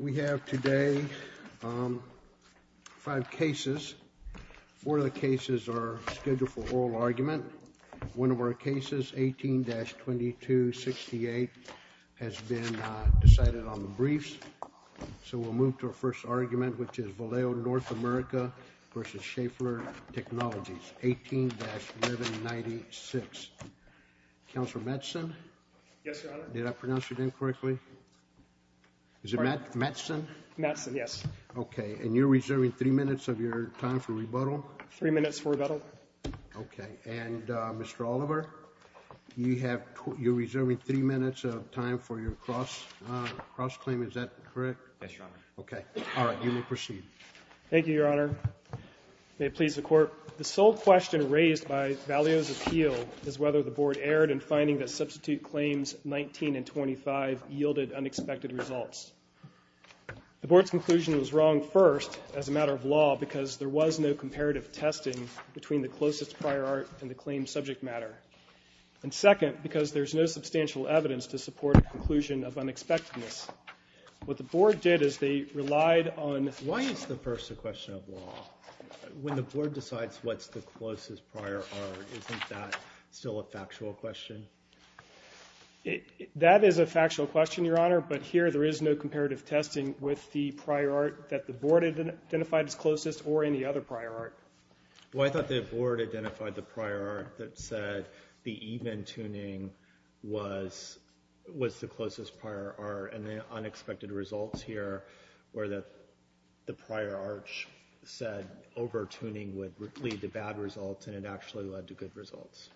We have today five cases. Four of the cases are scheduled for oral argument. One of our cases, 18-2268, has been decided on the briefs. So we'll move to our first argument, which is Valeo North America v. Schaeffler Technologies, 18-1196. Councilor Mattson? Yes, Your Honor. Did I pronounce your name correctly? Is it Mattson? Mattson, yes. Okay, and you're reserving three minutes of your time for rebuttal? Three minutes for rebuttal. Okay, and Mr. Oliver? You're reserving three minutes of time for your cross-claim, is that correct? Yes, Your Honor. Okay. All right. You may proceed. Thank you, Your Honor. May it please the Court. The sole question raised by Valeo's appeal is whether the Board erred in finding that substitute claims 19 and 25 yielded unexpected results. The Board's conclusion was wrong, first, as a matter of law, because there was no comparative testing between the closest prior art and the claimed subject matter, and second, because there's no substantial evidence to support a conclusion of unexpectedness. What the Board did is they relied on – Why is the first a question of law? When the Board decides what's the closest prior art, isn't that still a factual question? That is a factual question, Your Honor, but here there is no comparative testing with the prior art that the Board identified as closest or any other prior art. Well, I thought the Board identified the prior art that said the even-tuning was the closest prior art, and the unexpected results here were that the prior arch said over-tuning would lead to bad results, and it actually led to good results.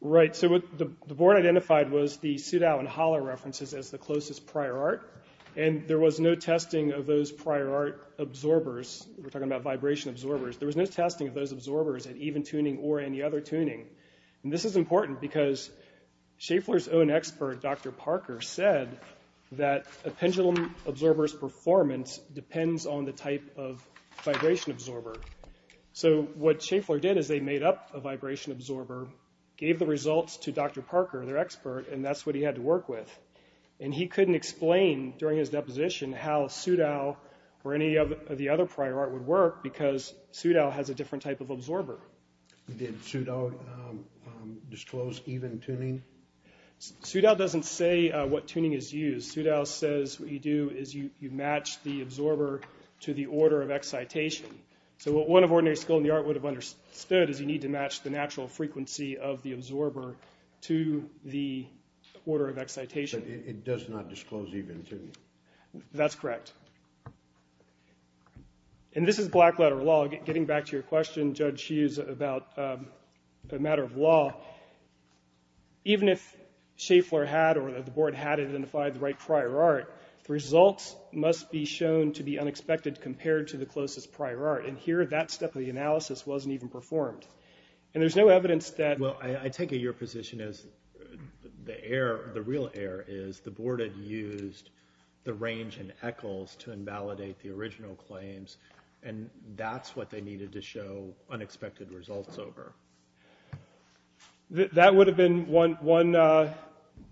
Right. So what the Board identified was the Sudow and Holler references as the closest prior art, and there was no testing of those prior art absorbers. We're talking about vibration absorbers. There was no testing of those absorbers at even-tuning or any other tuning. This is important because Schaeffler's own expert, Dr. Parker, said that a pendulum absorber's performance depends on the type of vibration absorber. So what Schaeffler did is they made up a vibration absorber, gave the results to Dr. Parker, their expert, and that's what he had to work with. And he couldn't explain during his deposition how Sudow or any of the other prior art would work because Sudow has a different type of absorber. Did Sudow disclose even-tuning? Sudow doesn't say what tuning is used. Sudow says what you do is you match the absorber to the order of excitation. So what one of ordinary skill in the art would have understood is you need to match the natural frequency of the absorber to the order of excitation. But it does not disclose even-tuning. That's correct. And this is black-letter law. Getting back to your question, Judge Hughes, about a matter of law, even if Schaeffler had or the board had identified the right prior art, the results must be shown to be unexpected compared to the closest prior art. And here, that step of the analysis wasn't even performed. And there's no evidence that... Well, I take it your position is the error, the real error, is the board had used the range in Eccles to invalidate the original claims, and that's what they needed to show unexpected results over. That would have been one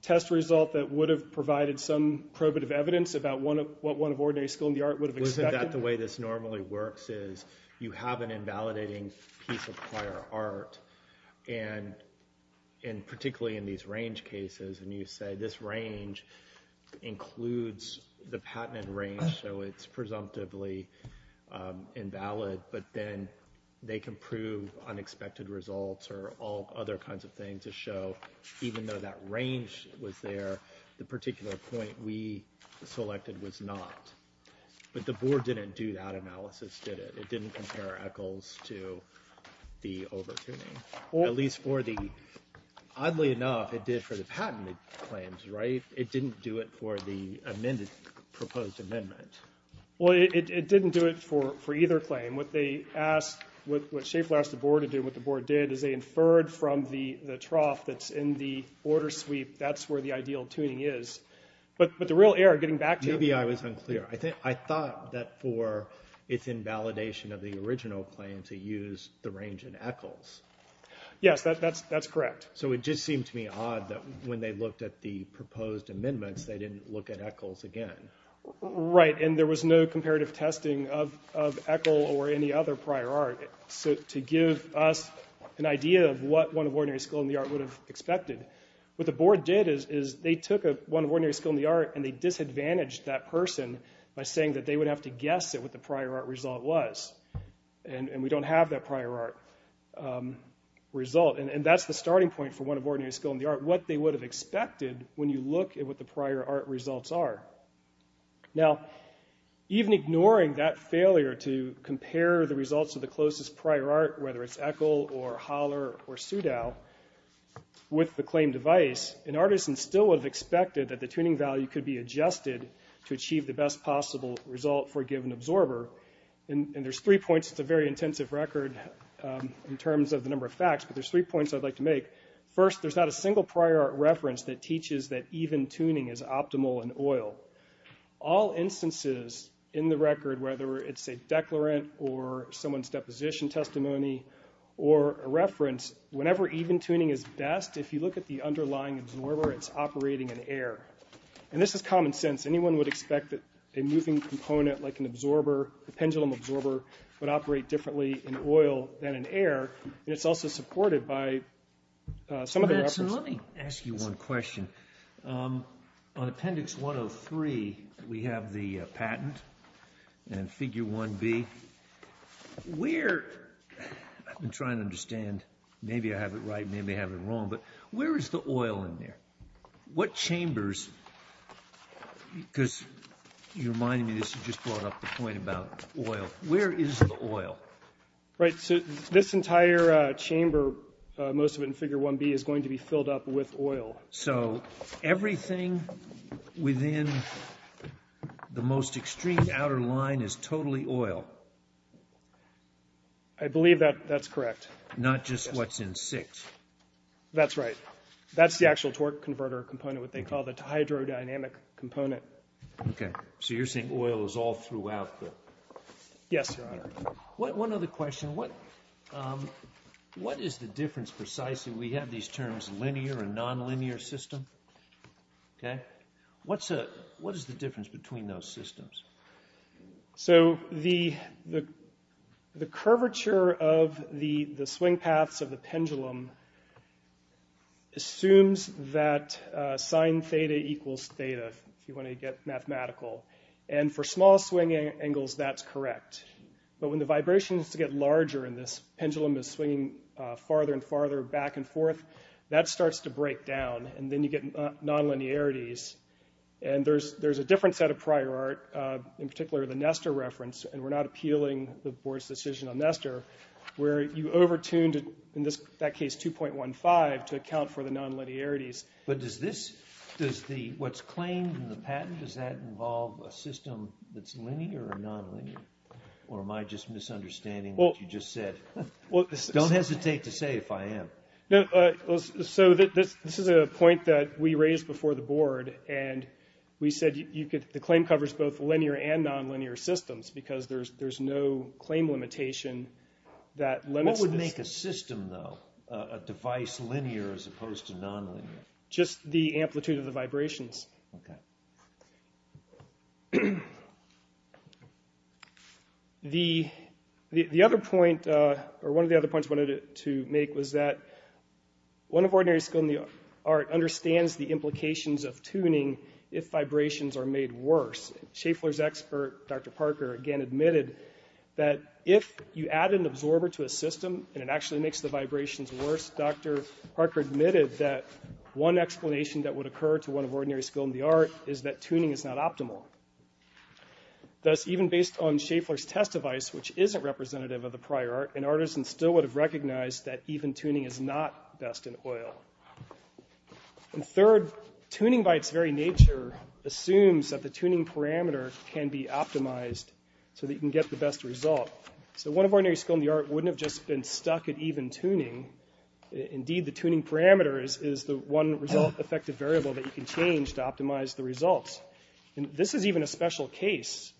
test result that would have provided some probative evidence about what one of ordinary skill in the art would have expected? Isn't that the way this normally works is you have an invalidating piece of prior art, and particularly in these range cases, and you say this range includes the patented range, so it's presumptively invalid, but then they can prove unexpected results or all other kinds of things to show even though that range was there, the particular point we selected was not. But the board didn't do that analysis, did it? It didn't compare Eccles to the over-tuning. Oddly enough, it did for the patented claims, right? It didn't do it for the proposed amendment. Well, it didn't do it for either claim. What Schaefer asked the board to do and what the board did is they inferred from the trough that's in the order sweep, that's where the ideal tuning is. But the real error, getting back to... Maybe I was unclear. I thought that for its invalidation of the original claim to use the range in Eccles. Yes, that's correct. So it just seemed to me odd that when they looked at the proposed amendments, they didn't look at Eccles again. Right, and there was no comparative testing of Eccle or any other prior art to give us an idea of what one of ordinary skill in the art would have expected. What the board did is they took one of ordinary skill in the art and they disadvantaged that person by saying that they would have to guess at what the prior art result was. And we don't have that prior art result. And that's the starting point for one of ordinary skill in the art, what they would have expected when you look at what the prior art results are. Now, even ignoring that failure to compare the results of the closest prior art, whether it's Eccle or Haller or Soudal, with the claim device, an artisan still would have expected that the tuning value could be adjusted to achieve the best possible result for a given absorber. And there's three points. It's a very intensive record in terms of the number of facts, but there's three points I'd like to make. First, there's not a single prior art reference that teaches that even tuning is optimal in oil. All instances in the record, whether it's a declarant or someone's deposition testimony or a reference, whenever even tuning is best, if you look at the underlying absorber, it's operating in air. And this is common sense. Anyone would expect that a moving component like an absorber, a pendulum absorber, would operate differently in oil than in air, and it's also supported by some of the references. Let me ask you one question. On Appendix 103, we have the patent and Figure 1B. I've been trying to understand. Maybe I have it right. Maybe I have it wrong. But where is the oil in there? What chambers? Because you reminded me this. You just brought up the point about oil. Where is the oil? Right. So this entire chamber, most of it in Figure 1B, is going to be filled up with oil. So everything within the most extreme outer line is totally oil? I believe that that's correct. Not just what's in 6? That's right. That's the actual torque converter component, what they call the hydrodynamic component. Okay. So you're saying oil is all throughout the chamber? Yes, Your Honor. One other question. What is the difference precisely? We have these terms linear and nonlinear system. Okay. What is the difference between those systems? So the curvature of the swing paths of the pendulum assumes that sine theta equals theta, if you want to get mathematical. And for small swing angles, that's correct. But when the vibration has to get larger and this pendulum is swinging farther and farther back and forth, that starts to break down, and then you get nonlinearities. And there's a different set of prior art, in particular the Nestor reference, and we're not appealing the Board's decision on Nestor, where you over-tuned, in that case, 2.15 to account for the nonlinearities. But what's claimed in the patent, does that involve a system that's linear or nonlinear? Or am I just misunderstanding what you just said? Don't hesitate to say if I am. So this is a point that we raised before the Board, and we said the claim covers both linear and nonlinear systems because there's no claim limitation that limits this. What about the system, though, a device linear as opposed to nonlinear? Just the amplitude of the vibrations. Okay. The other point, or one of the other points I wanted to make, was that one of ordinary skill in the art understands the implications of tuning if vibrations are made worse. Schaeffler's expert, Dr. Parker, again admitted that if you add an absorber to a system and it actually makes the vibrations worse, Dr. Parker admitted that one explanation that would occur to one of ordinary skill in the art is that tuning is not optimal. Thus, even based on Schaeffler's test device, which isn't representative of the prior art, an artisan still would have recognized that even tuning is not best in oil. And third, tuning by its very nature assumes that the tuning parameter can be optimized so that you can get the best result. So one of ordinary skill in the art wouldn't have just been stuck at even tuning. Indeed, the tuning parameter is the one result effective variable that you can change to optimize the results. And this is even a special case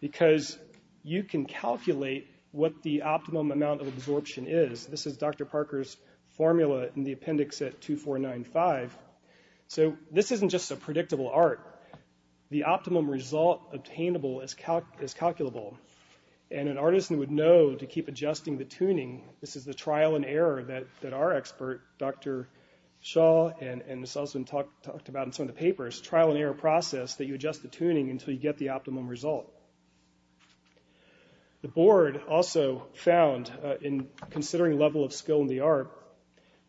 because you can calculate what the optimum amount of absorption is. This is Dr. Parker's formula in the appendix at 2495. So this isn't just a predictable art. The optimum result obtainable is calculable. And an artisan would know to keep adjusting the tuning. This is the trial and error that our expert, Dr. Shaw, and this has also been talked about in some of the papers, trial and error process that you adjust the tuning until you get the optimum result. The board also found in considering level of skill in the art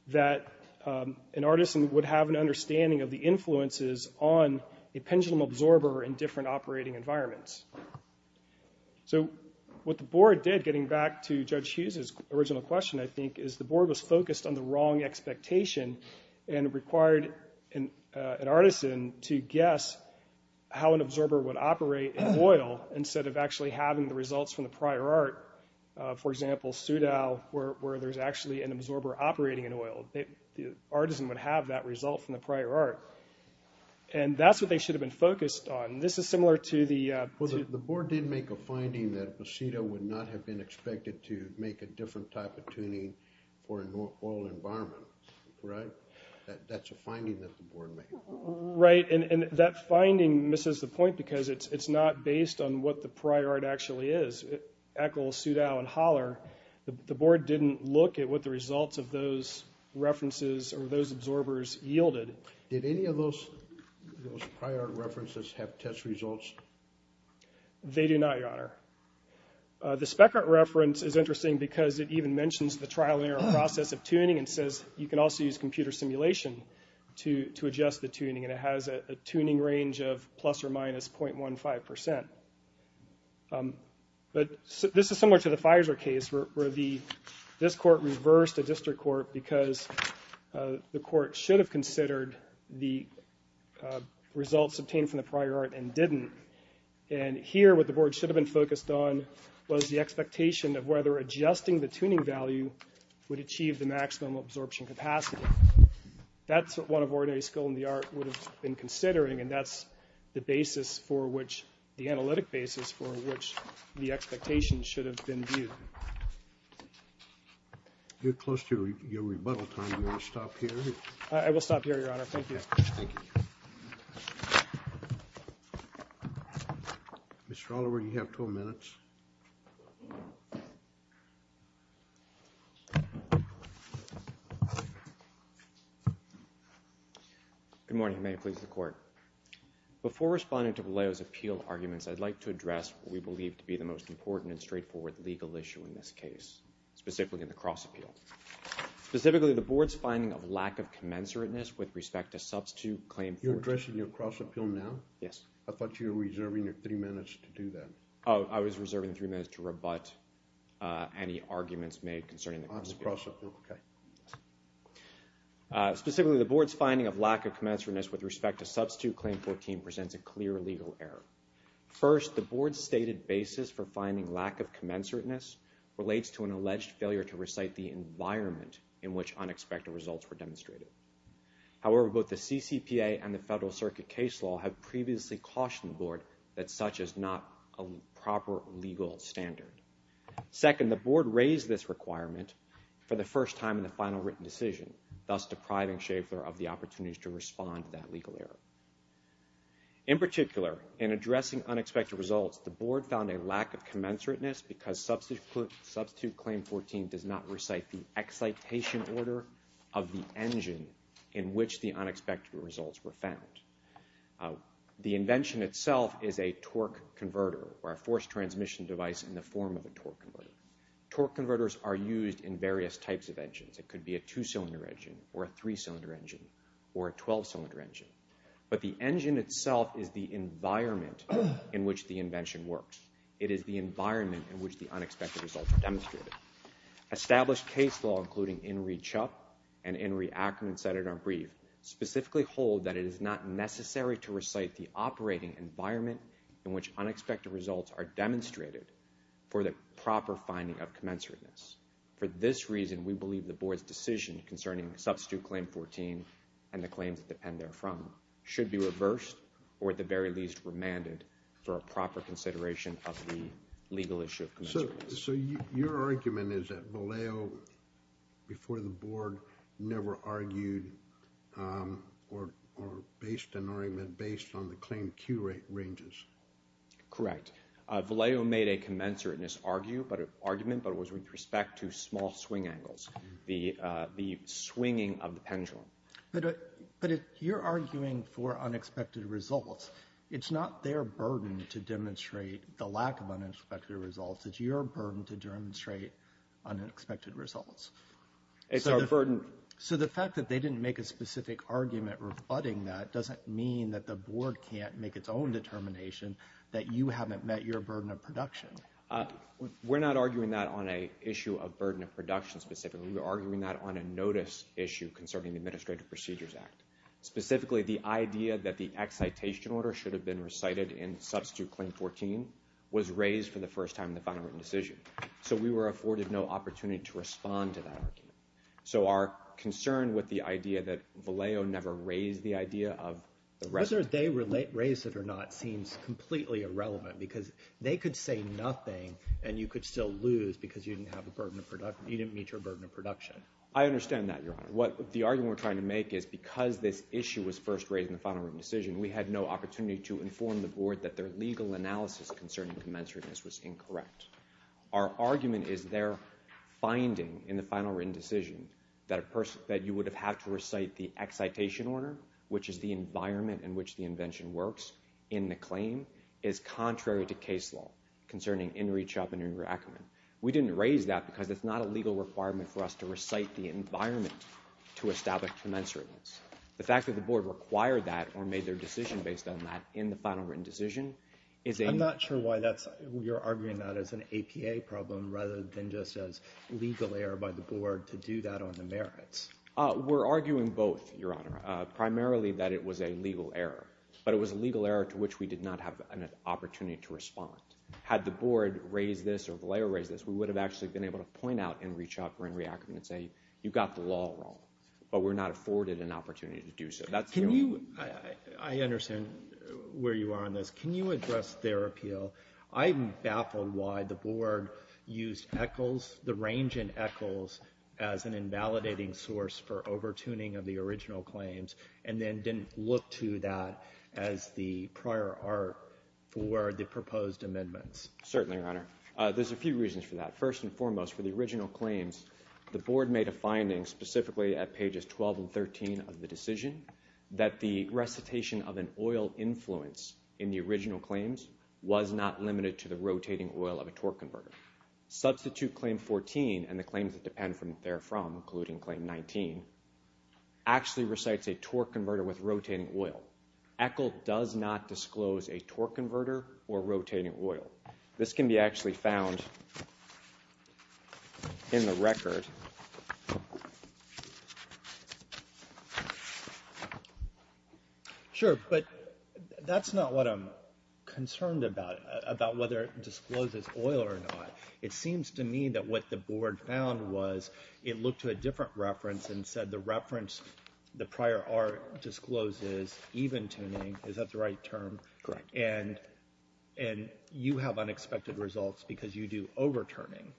that an artisan would have an understanding of the influences on a pendulum absorber in different operating environments. So what the board did, getting back to Judge Hughes' original question, I think, is the board was focused on the wrong expectation and required an artisan to guess how an absorber would operate in oil instead of actually having the results from the prior art. For example, Soudal, where there's actually an absorber operating in oil, the artisan would have that result from the prior art. And that's what they should have been focused on. This is similar to the— Well, the board did make a finding that Posido would not have been expected to make a different type of tuning for an oil environment, right? That's a finding that the board made. Right, and that finding misses the point because it's not based on what the prior art actually is. Eccles, Soudal, and Holler, the board didn't look at what the results of those references or those absorbers yielded. Did any of those prior art references have test results? They do not, Your Honor. The speck art reference is interesting because it even mentions the trial and error process of tuning and says you can also use computer simulation to adjust the tuning, and it has a tuning range of plus or minus 0.15%. But this is similar to the Pfizer case, where this court reversed a district court because the court should have considered the results obtained from the prior art and didn't, and here what the board should have been focused on was the expectation of whether adjusting the tuning value would achieve the maximum absorption capacity. That's what one of ordinary skill in the art would have been considering, and that's the basis for which the analytic basis for which the expectation should have been viewed. You're close to your rebuttal time. Do you want to stop here? I will stop here, Your Honor. Thank you. Thank you. Mr. Oliver, you have 12 minutes. Good morning. May it please the Court. Before responding to Vallejo's appeal arguments, I'd like to address what we believe to be the most important and straightforward legal issue in this case, specifically in the cross appeal. Specifically, the board's finding of lack of commensurateness with respect to substitute claim 14. You're addressing your cross appeal now? Yes. I thought you were reserving your three minutes to do that. I was reserving three minutes to rebut any arguments made concerning the cross appeal. On the cross appeal, okay. Specifically, the board's finding of lack of commensurateness with respect to substitute claim 14 presents a clear legal error. First, the board's stated basis for finding lack of commensurateness relates to an alleged failure to recite the environment in which unexpected results were demonstrated. However, both the CCPA and the Federal Circuit case law have previously cautioned the board that such is not a proper legal standard. Second, the board raised this requirement for the first time in the final written decision, thus depriving Schaeffler of the opportunity to respond to that legal error. In particular, in addressing unexpected results, the board found a lack of commensurateness because substitute claim 14 does not recite the excitation order of the engine in which the unexpected results were found. The invention itself is a torque converter or a forced transmission device in the form of a torque converter. Torque converters are used in various types of engines. It could be a two-cylinder engine or a three-cylinder engine or a 12-cylinder engine. But the engine itself is the environment in which the invention works. It is the environment in which the unexpected results are demonstrated. Established case law, including Inree Chup and Inree Ackerman, Senator Ambrieve, specifically hold that it is not necessary to recite the operating environment in which unexpected results are demonstrated for the proper finding of commensurateness. For this reason, we believe the board's decision concerning substitute claim 14 and the claims that depend therefrom should be reversed or at the very least remanded for a proper consideration of the legal issue of commensurateness. So your argument is that Vallejo, before the board, never argued or based an argument based on the claim Q ranges? Correct. Vallejo made a commensurateness argument, but it was with respect to small swing angles. The swinging of the pendulum. But if you're arguing for unexpected results, it's not their burden to demonstrate the lack of unexpected results. It's your burden to demonstrate unexpected results. It's our burden. So the fact that they didn't make a specific argument rebutting that doesn't mean that the board can't make its own determination that you haven't met your burden of production. We're not arguing that on an issue of burden of production specifically. We're arguing that on a notice issue concerning the Administrative Procedures Act. Specifically, the idea that the excitation order should have been recited in substitute claim 14 was raised for the first time in the final written decision. So we were afforded no opportunity to respond to that argument. So our concern with the idea that Vallejo never raised the idea of the rest. Whether they raised it or not seems completely irrelevant because they could say nothing and you could still lose because you didn't meet your burden of production. I understand that, Your Honor. The argument we're trying to make is because this issue was first raised in the final written decision, we had no opportunity to inform the board that their legal analysis concerning commensurateness was incorrect. Our argument is their finding in the final written decision that you would have had to recite the excitation order, which is the environment in which the invention works in the claim, is contrary to case law concerning in-reach up and in-recommend. We didn't raise that because it's not a legal requirement for us to recite the environment to establish commensurateness. The fact that the board required that or made their decision based on that in the final written decision is a... I'm not sure why you're arguing that as an APA problem rather than just as legal error by the board to do that on the merits. We're arguing both, Your Honor. Primarily that it was a legal error, but it was a legal error to which we did not have an opportunity to respond. Had the board raised this or the lawyer raised this, we would have actually been able to point out in-reach up or in-recommend and say you've got the law wrong, but we're not afforded an opportunity to do so. Can you... I understand where you are on this. Can you address their appeal? I'm baffled why the board used ECHLs, the range in ECHLs, as an invalidating source for overtuning of the original claims and then didn't look to that as the prior art for the proposed amendments. Certainly, Your Honor. There's a few reasons for that. First and foremost, for the original claims, the board made a finding specifically at pages 12 and 13 of the decision that the recitation of an oil influence in the original claims was not limited to the rotating oil of a torque converter. Substitute claim 14 and the claims that depend from therefrom, including claim 19, actually recites a torque converter with rotating oil. ECHL does not disclose a torque converter or rotating oil. This can be actually found in the record. Sure, but that's not what I'm concerned about, about whether it discloses oil or not. It seems to me that what the board found was it looked to a different reference and said the reference, the prior art discloses even tuning. Is that the right term? Correct. And you have unexpected results because you do overturning.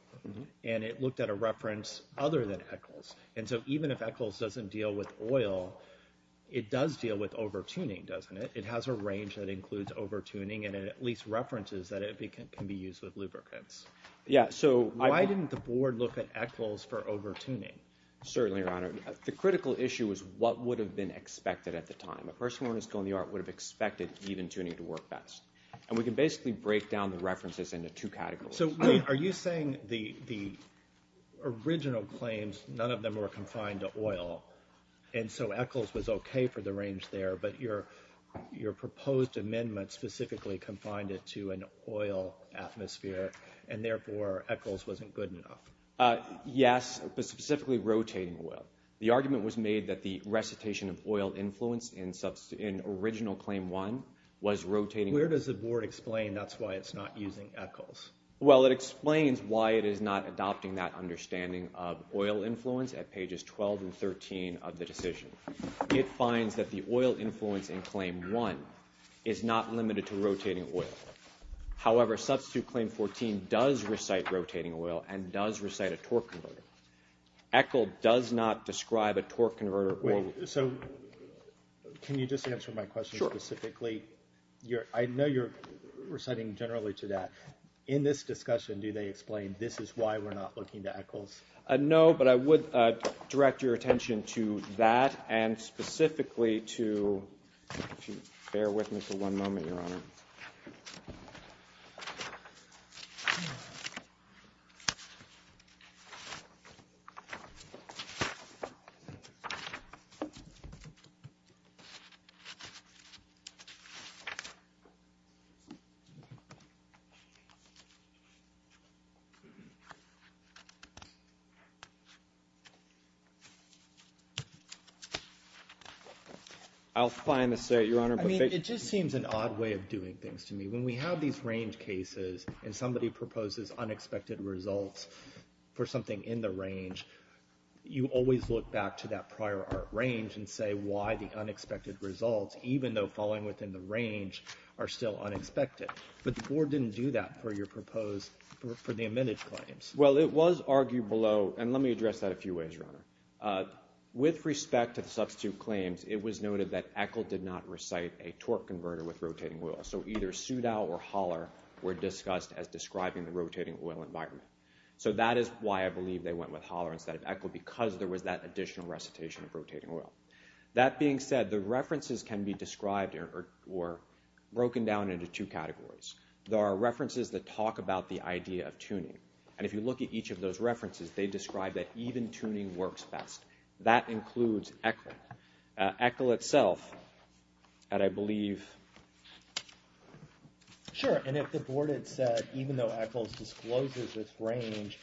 And it looked at a reference other than ECHLs. And so even if ECHLs doesn't deal with oil, it does deal with overtuning, doesn't it? It has a range that includes overtuning and at least references that it can be used with lubricants. Why didn't the board look at ECHLs for overtuning? Certainly, Your Honor. The critical issue is what would have been expected at the time. A person with a skill in the art would have expected even tuning to work best. And we can basically break down the references into two categories. So are you saying the original claims, none of them were confined to oil, and so ECHLs was okay for the range there, but your proposed amendment specifically confined it to an oil atmosphere and therefore ECHLs wasn't good enough? Yes, but specifically rotating oil. The argument was made that the recitation of oil influence in original Claim 1 was rotating. Where does the board explain that's why it's not using ECHLs? Well, it explains why it is not adopting that understanding of oil influence at pages 12 and 13 of the decision. It finds that the oil influence in Claim 1 is not limited to rotating oil. However, Substitute Claim 14 does recite rotating oil and does recite a torque converter. ECHL does not describe a torque converter. So can you just answer my question specifically? Sure. I know you're reciting generally to that. In this discussion, do they explain this is why we're not looking to ECHLs? No, but I would direct your attention to that I'll find the state, Your Honor. I mean, it just seems an odd way of doing things to me. When we have these range cases and somebody proposes unexpected results for something in the range, you always look back to that prior art range and say why the unexpected results, even though falling within the range, are still unexpected. But the board didn't do that for your proposed for the amended claims. Well, it was argued below, and let me address that a few ways, Your Honor. With respect to the Substitute Claims, it was noted that ECHL did not recite a torque converter with rotating oil. So either Soudow or Holler were discussed as describing the rotating oil environment. So that is why I believe they went with Holler instead of ECHL, because there was that additional recitation of rotating oil. That being said, the references can be described or broken down into two categories. There are references that talk about the idea of tuning. And if you look at each of those references, they describe that even tuning works best. That includes ECHL. ECHL itself, and I believe— Sure, and if the board had said even though ECHL discloses its range,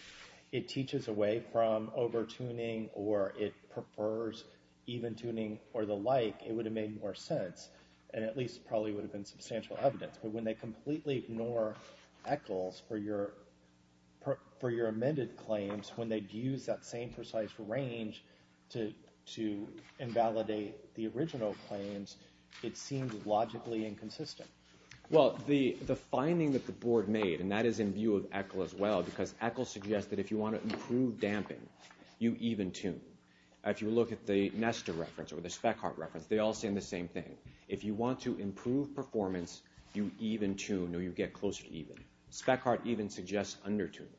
it teaches away from over-tuning or it prefers even tuning or the like, it would have made more sense and at least probably would have been substantial evidence. But when they completely ignore ECHLs for your amended claims, when they use that same precise range to invalidate the original claims, it seems logically inconsistent. Well, the finding that the board made, and that is in view of ECHL as well, because ECHL suggests that if you want to improve damping, you even tune. If you look at the Nesta reference or the Speckhardt reference, they all say the same thing. If you want to improve performance, you even tune or you get closer to even. Speckhardt even suggests under-tuning.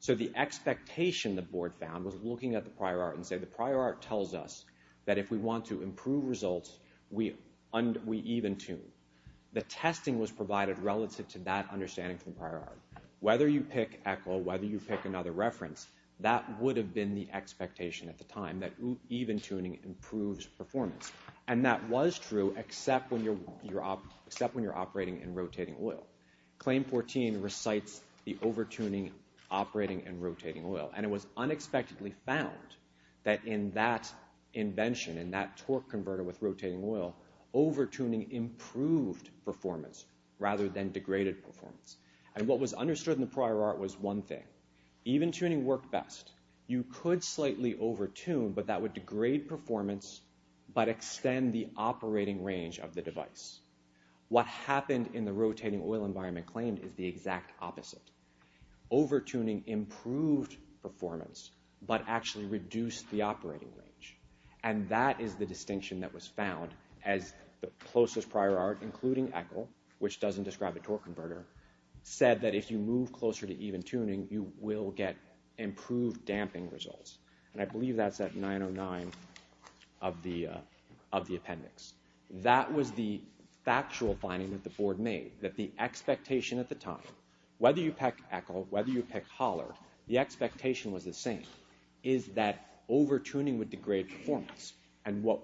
So the expectation the board found was looking at the prior art and say the prior art tells us that if we want to improve results, we even tune. The testing was provided relative to that understanding from the prior art. Whether you pick ECHL, whether you pick another reference, that would have been the expectation at the time, that even tuning improves performance. And that was true except when you're operating in rotating oil. Claim 14 recites the over-tuning operating in rotating oil. And it was unexpectedly found that in that invention, in that torque converter with rotating oil, over-tuning improved performance rather than degraded performance. And what was understood in the prior art was one thing. Even tuning worked best. You could slightly over-tune, but that would degrade performance but extend the operating range of the device. What happened in the rotating oil environment claimed is the exact opposite. Over-tuning improved performance but actually reduced the operating range. And that is the distinction that was found as the closest prior art, including ECHL, which doesn't describe a torque converter, said that if you move closer to even tuning, you will get improved damping results. And I believe that's at 909 of the appendix. That was the factual finding that the board made, that the expectation at the time, whether you pick ECHL, whether you pick Holler, the expectation was the same, is that over-tuning would degrade performance. And what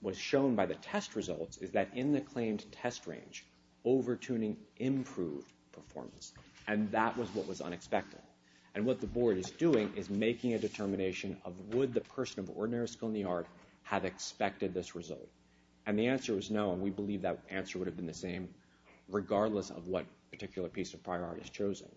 was shown by the test results is that in the claimed test range, over-tuning improved performance. And that was what was unexpected. And what the board is doing is making a determination of would the person of ordinary skill in the art have expected this result. And the answer was no, and we believe that answer would have been the same regardless of what particular piece of prior art is chosen.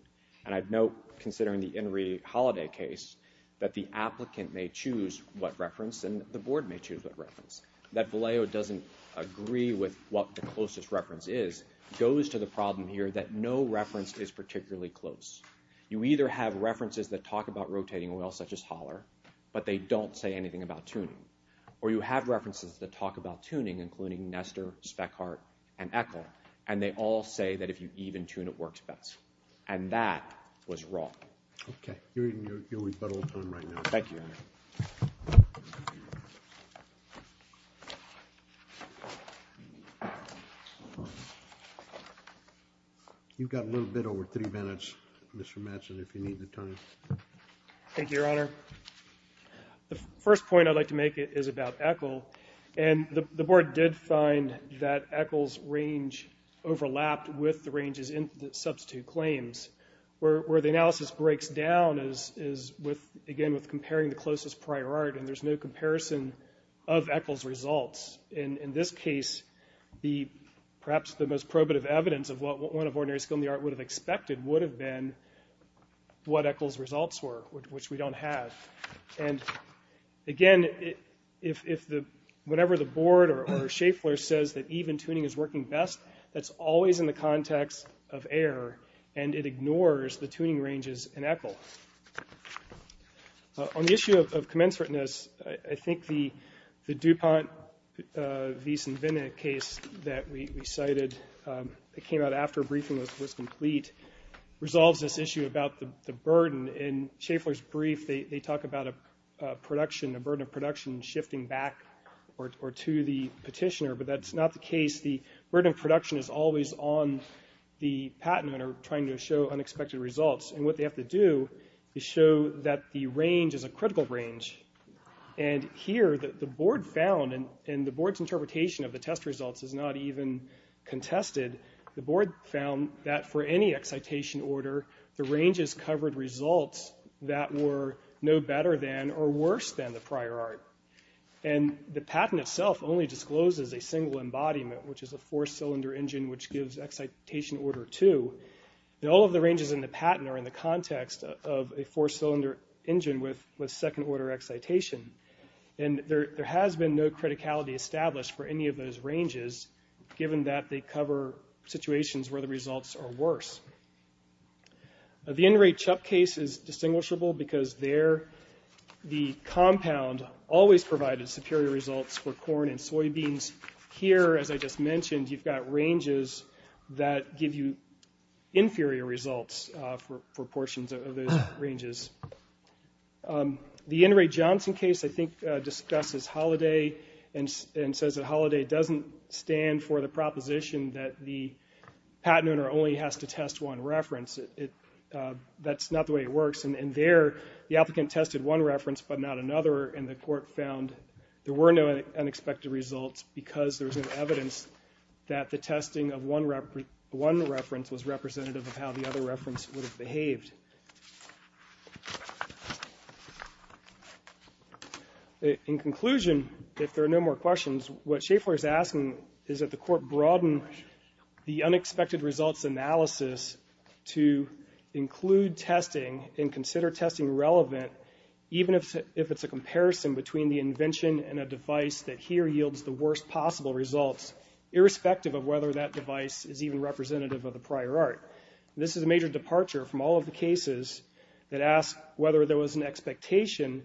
And I'd note, considering the Henry Holliday case, that the applicant may choose what reference and the board may choose what reference. That Vallejo doesn't agree with what the closest reference is goes to the problem here that no reference is particularly close. You either have references that talk about rotating well, such as Holler, but they don't say anything about tuning. Or you have references that talk about tuning, including Nestor, Speckhardt, and ECHL, and they all say that if you even tune, it works best. And that was wrong. Okay, you're in your rebuttal time right now. Thank you, Your Honor. You've got a little bit over three minutes, Mr. Matson, if you need the time. Thank you, Your Honor. The first point I'd like to make is about ECHL. And the board did find that ECHL's range overlapped with the ranges in the substitute claims where the analysis breaks down, again, with comparing the closest prior art, and there's no comparison of ECHL's results. In this case, perhaps the most probative evidence of what one of ordinary skill in the art would have expected would have been what ECHL's results were, which we don't have. And, again, whenever the board or Schaeffler says that even tuning is working best, that's always in the context of error, and it ignores the tuning ranges in ECHL. On the issue of commensurateness, I think the DuPont-Wiese-Winne case that we cited that came out after a briefing was complete resolves this issue about the burden. In Schaeffler's brief, they talk about a burden of production shifting back or to the petitioner, but that's not the case. The burden of production is always on the patent owner trying to show unexpected results, and what they have to do is show that the range is a critical range. And here, the board found, and the board's interpretation of the test results is not even contested, the board found that for any excitation order, the ranges covered results that were no better than or worse than the prior art. And the patent itself only discloses a single embodiment, which is a four-cylinder engine which gives excitation order two. And all of the ranges in the patent are in the context of a four-cylinder engine with second-order excitation. And there has been no criticality established for any of those ranges, given that they cover situations where the results are worse. The Inouye-Chup case is distinguishable because there, the compound always provided superior results for corn and soybeans. Here, as I just mentioned, you've got ranges that give you inferior results for portions of those ranges. The Inouye-Johnson case, I think, discusses Holliday and says that Holliday doesn't stand for the proposition that the patent owner only has to test one reference. That's not the way it works. And there, the applicant tested one reference but not another, and the court found there were no unexpected results because there was no evidence that the testing of one reference was representative of how the other reference would have behaved. In conclusion, if there are no more questions, what Schaeffler is asking is that the court broaden the unexpected results analysis to include testing and consider testing relevant, even if it's a comparison between the invention and a device that here yields the worst possible results, irrespective of whether that device is even representative of the prior art. This is a major departure from all of the cases that ask whether there was an expectation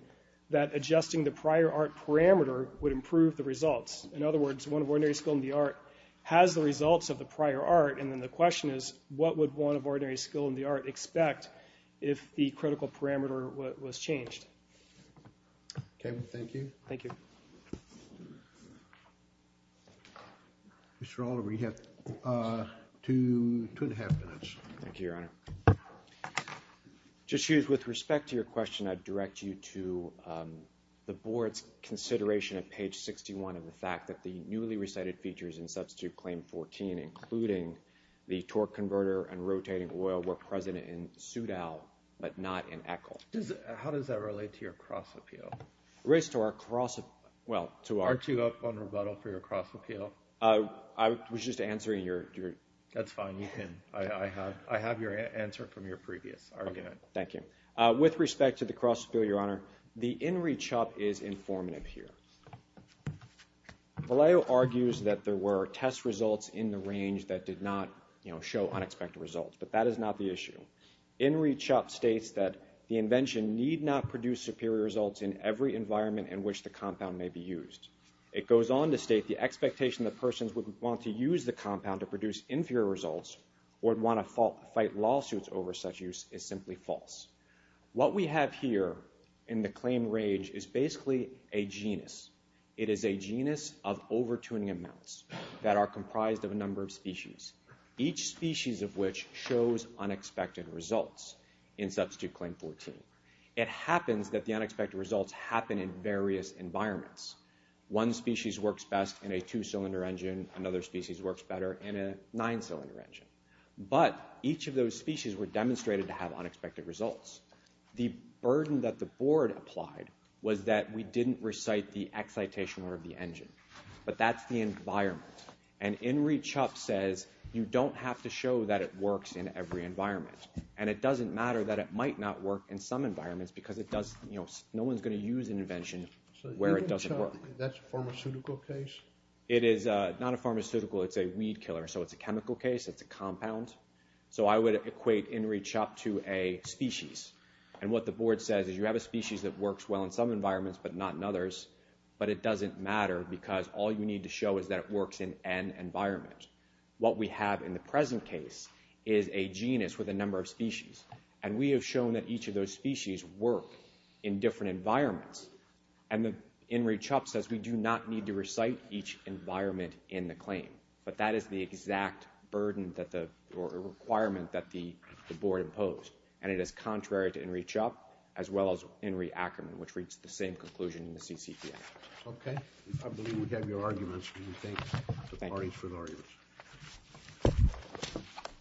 that adjusting the prior art parameter would improve the results. In other words, one of ordinary skill in the art has the results of the prior art, and then the question is, what would one of ordinary skill in the art expect if the critical parameter was changed? Okay, well, thank you. Thank you. Mr. Oliver, you have two and a half minutes. Thank you, Your Honor. Justice Hughes, with respect to your question, I'd direct you to the Board's consideration at page 61 of the fact that the newly recited features in Substitute Claim 14, including the torque converter and rotating oil, were present in Soudal, but not in ECHL. How does that relate to your cross-appeal? Well, to our— Aren't you up on rebuttal for your cross-appeal? I was just answering your— That's fine. I have your answer from your previous argument. Okay, thank you. With respect to the cross-appeal, Your Honor, the INRI CHUP is informative here. Vallejo argues that there were test results in the range that did not show unexpected results, but that is not the issue. INRI CHUP states that the invention need not produce superior results in every environment in which the compound may be used. What we have here in the claim range is basically a genus. It is a genus of overtuning amounts that are comprised of a number of species, each species of which shows unexpected results in Substitute Claim 14. It happens that the unexpected results happen in various environments. One species works best in a two-cylinder engine. Another species works better in a nine-cylinder engine. But each of those species were demonstrated to have unexpected results. The burden that the Board applied was that we didn't recite the excitation order of the engine, but that's the environment. And INRI CHUP says you don't have to show that it works in every environment, and it doesn't matter that it might not work in some environments because no one is going to use an invention where it doesn't work. That's a pharmaceutical case? It is not a pharmaceutical. It's a weed killer, so it's a chemical case. It's a compound. So I would equate INRI CHUP to a species, and what the Board says is you have a species that works well in some environments but not in others, but it doesn't matter because all you need to show is that it works in an environment. What we have in the present case is a genus with a number of species, and we have shown that each of those species work in different environments. And INRI CHUP says we do not need to recite each environment in the claim, but that is the exact burden or requirement that the Board imposed, and it is contrary to INRI CHUP as well as INRI Ackerman, which reached the same conclusion in the CCPA. Okay. I believe we have your arguments, and we thank the parties for their arguments. Thank you.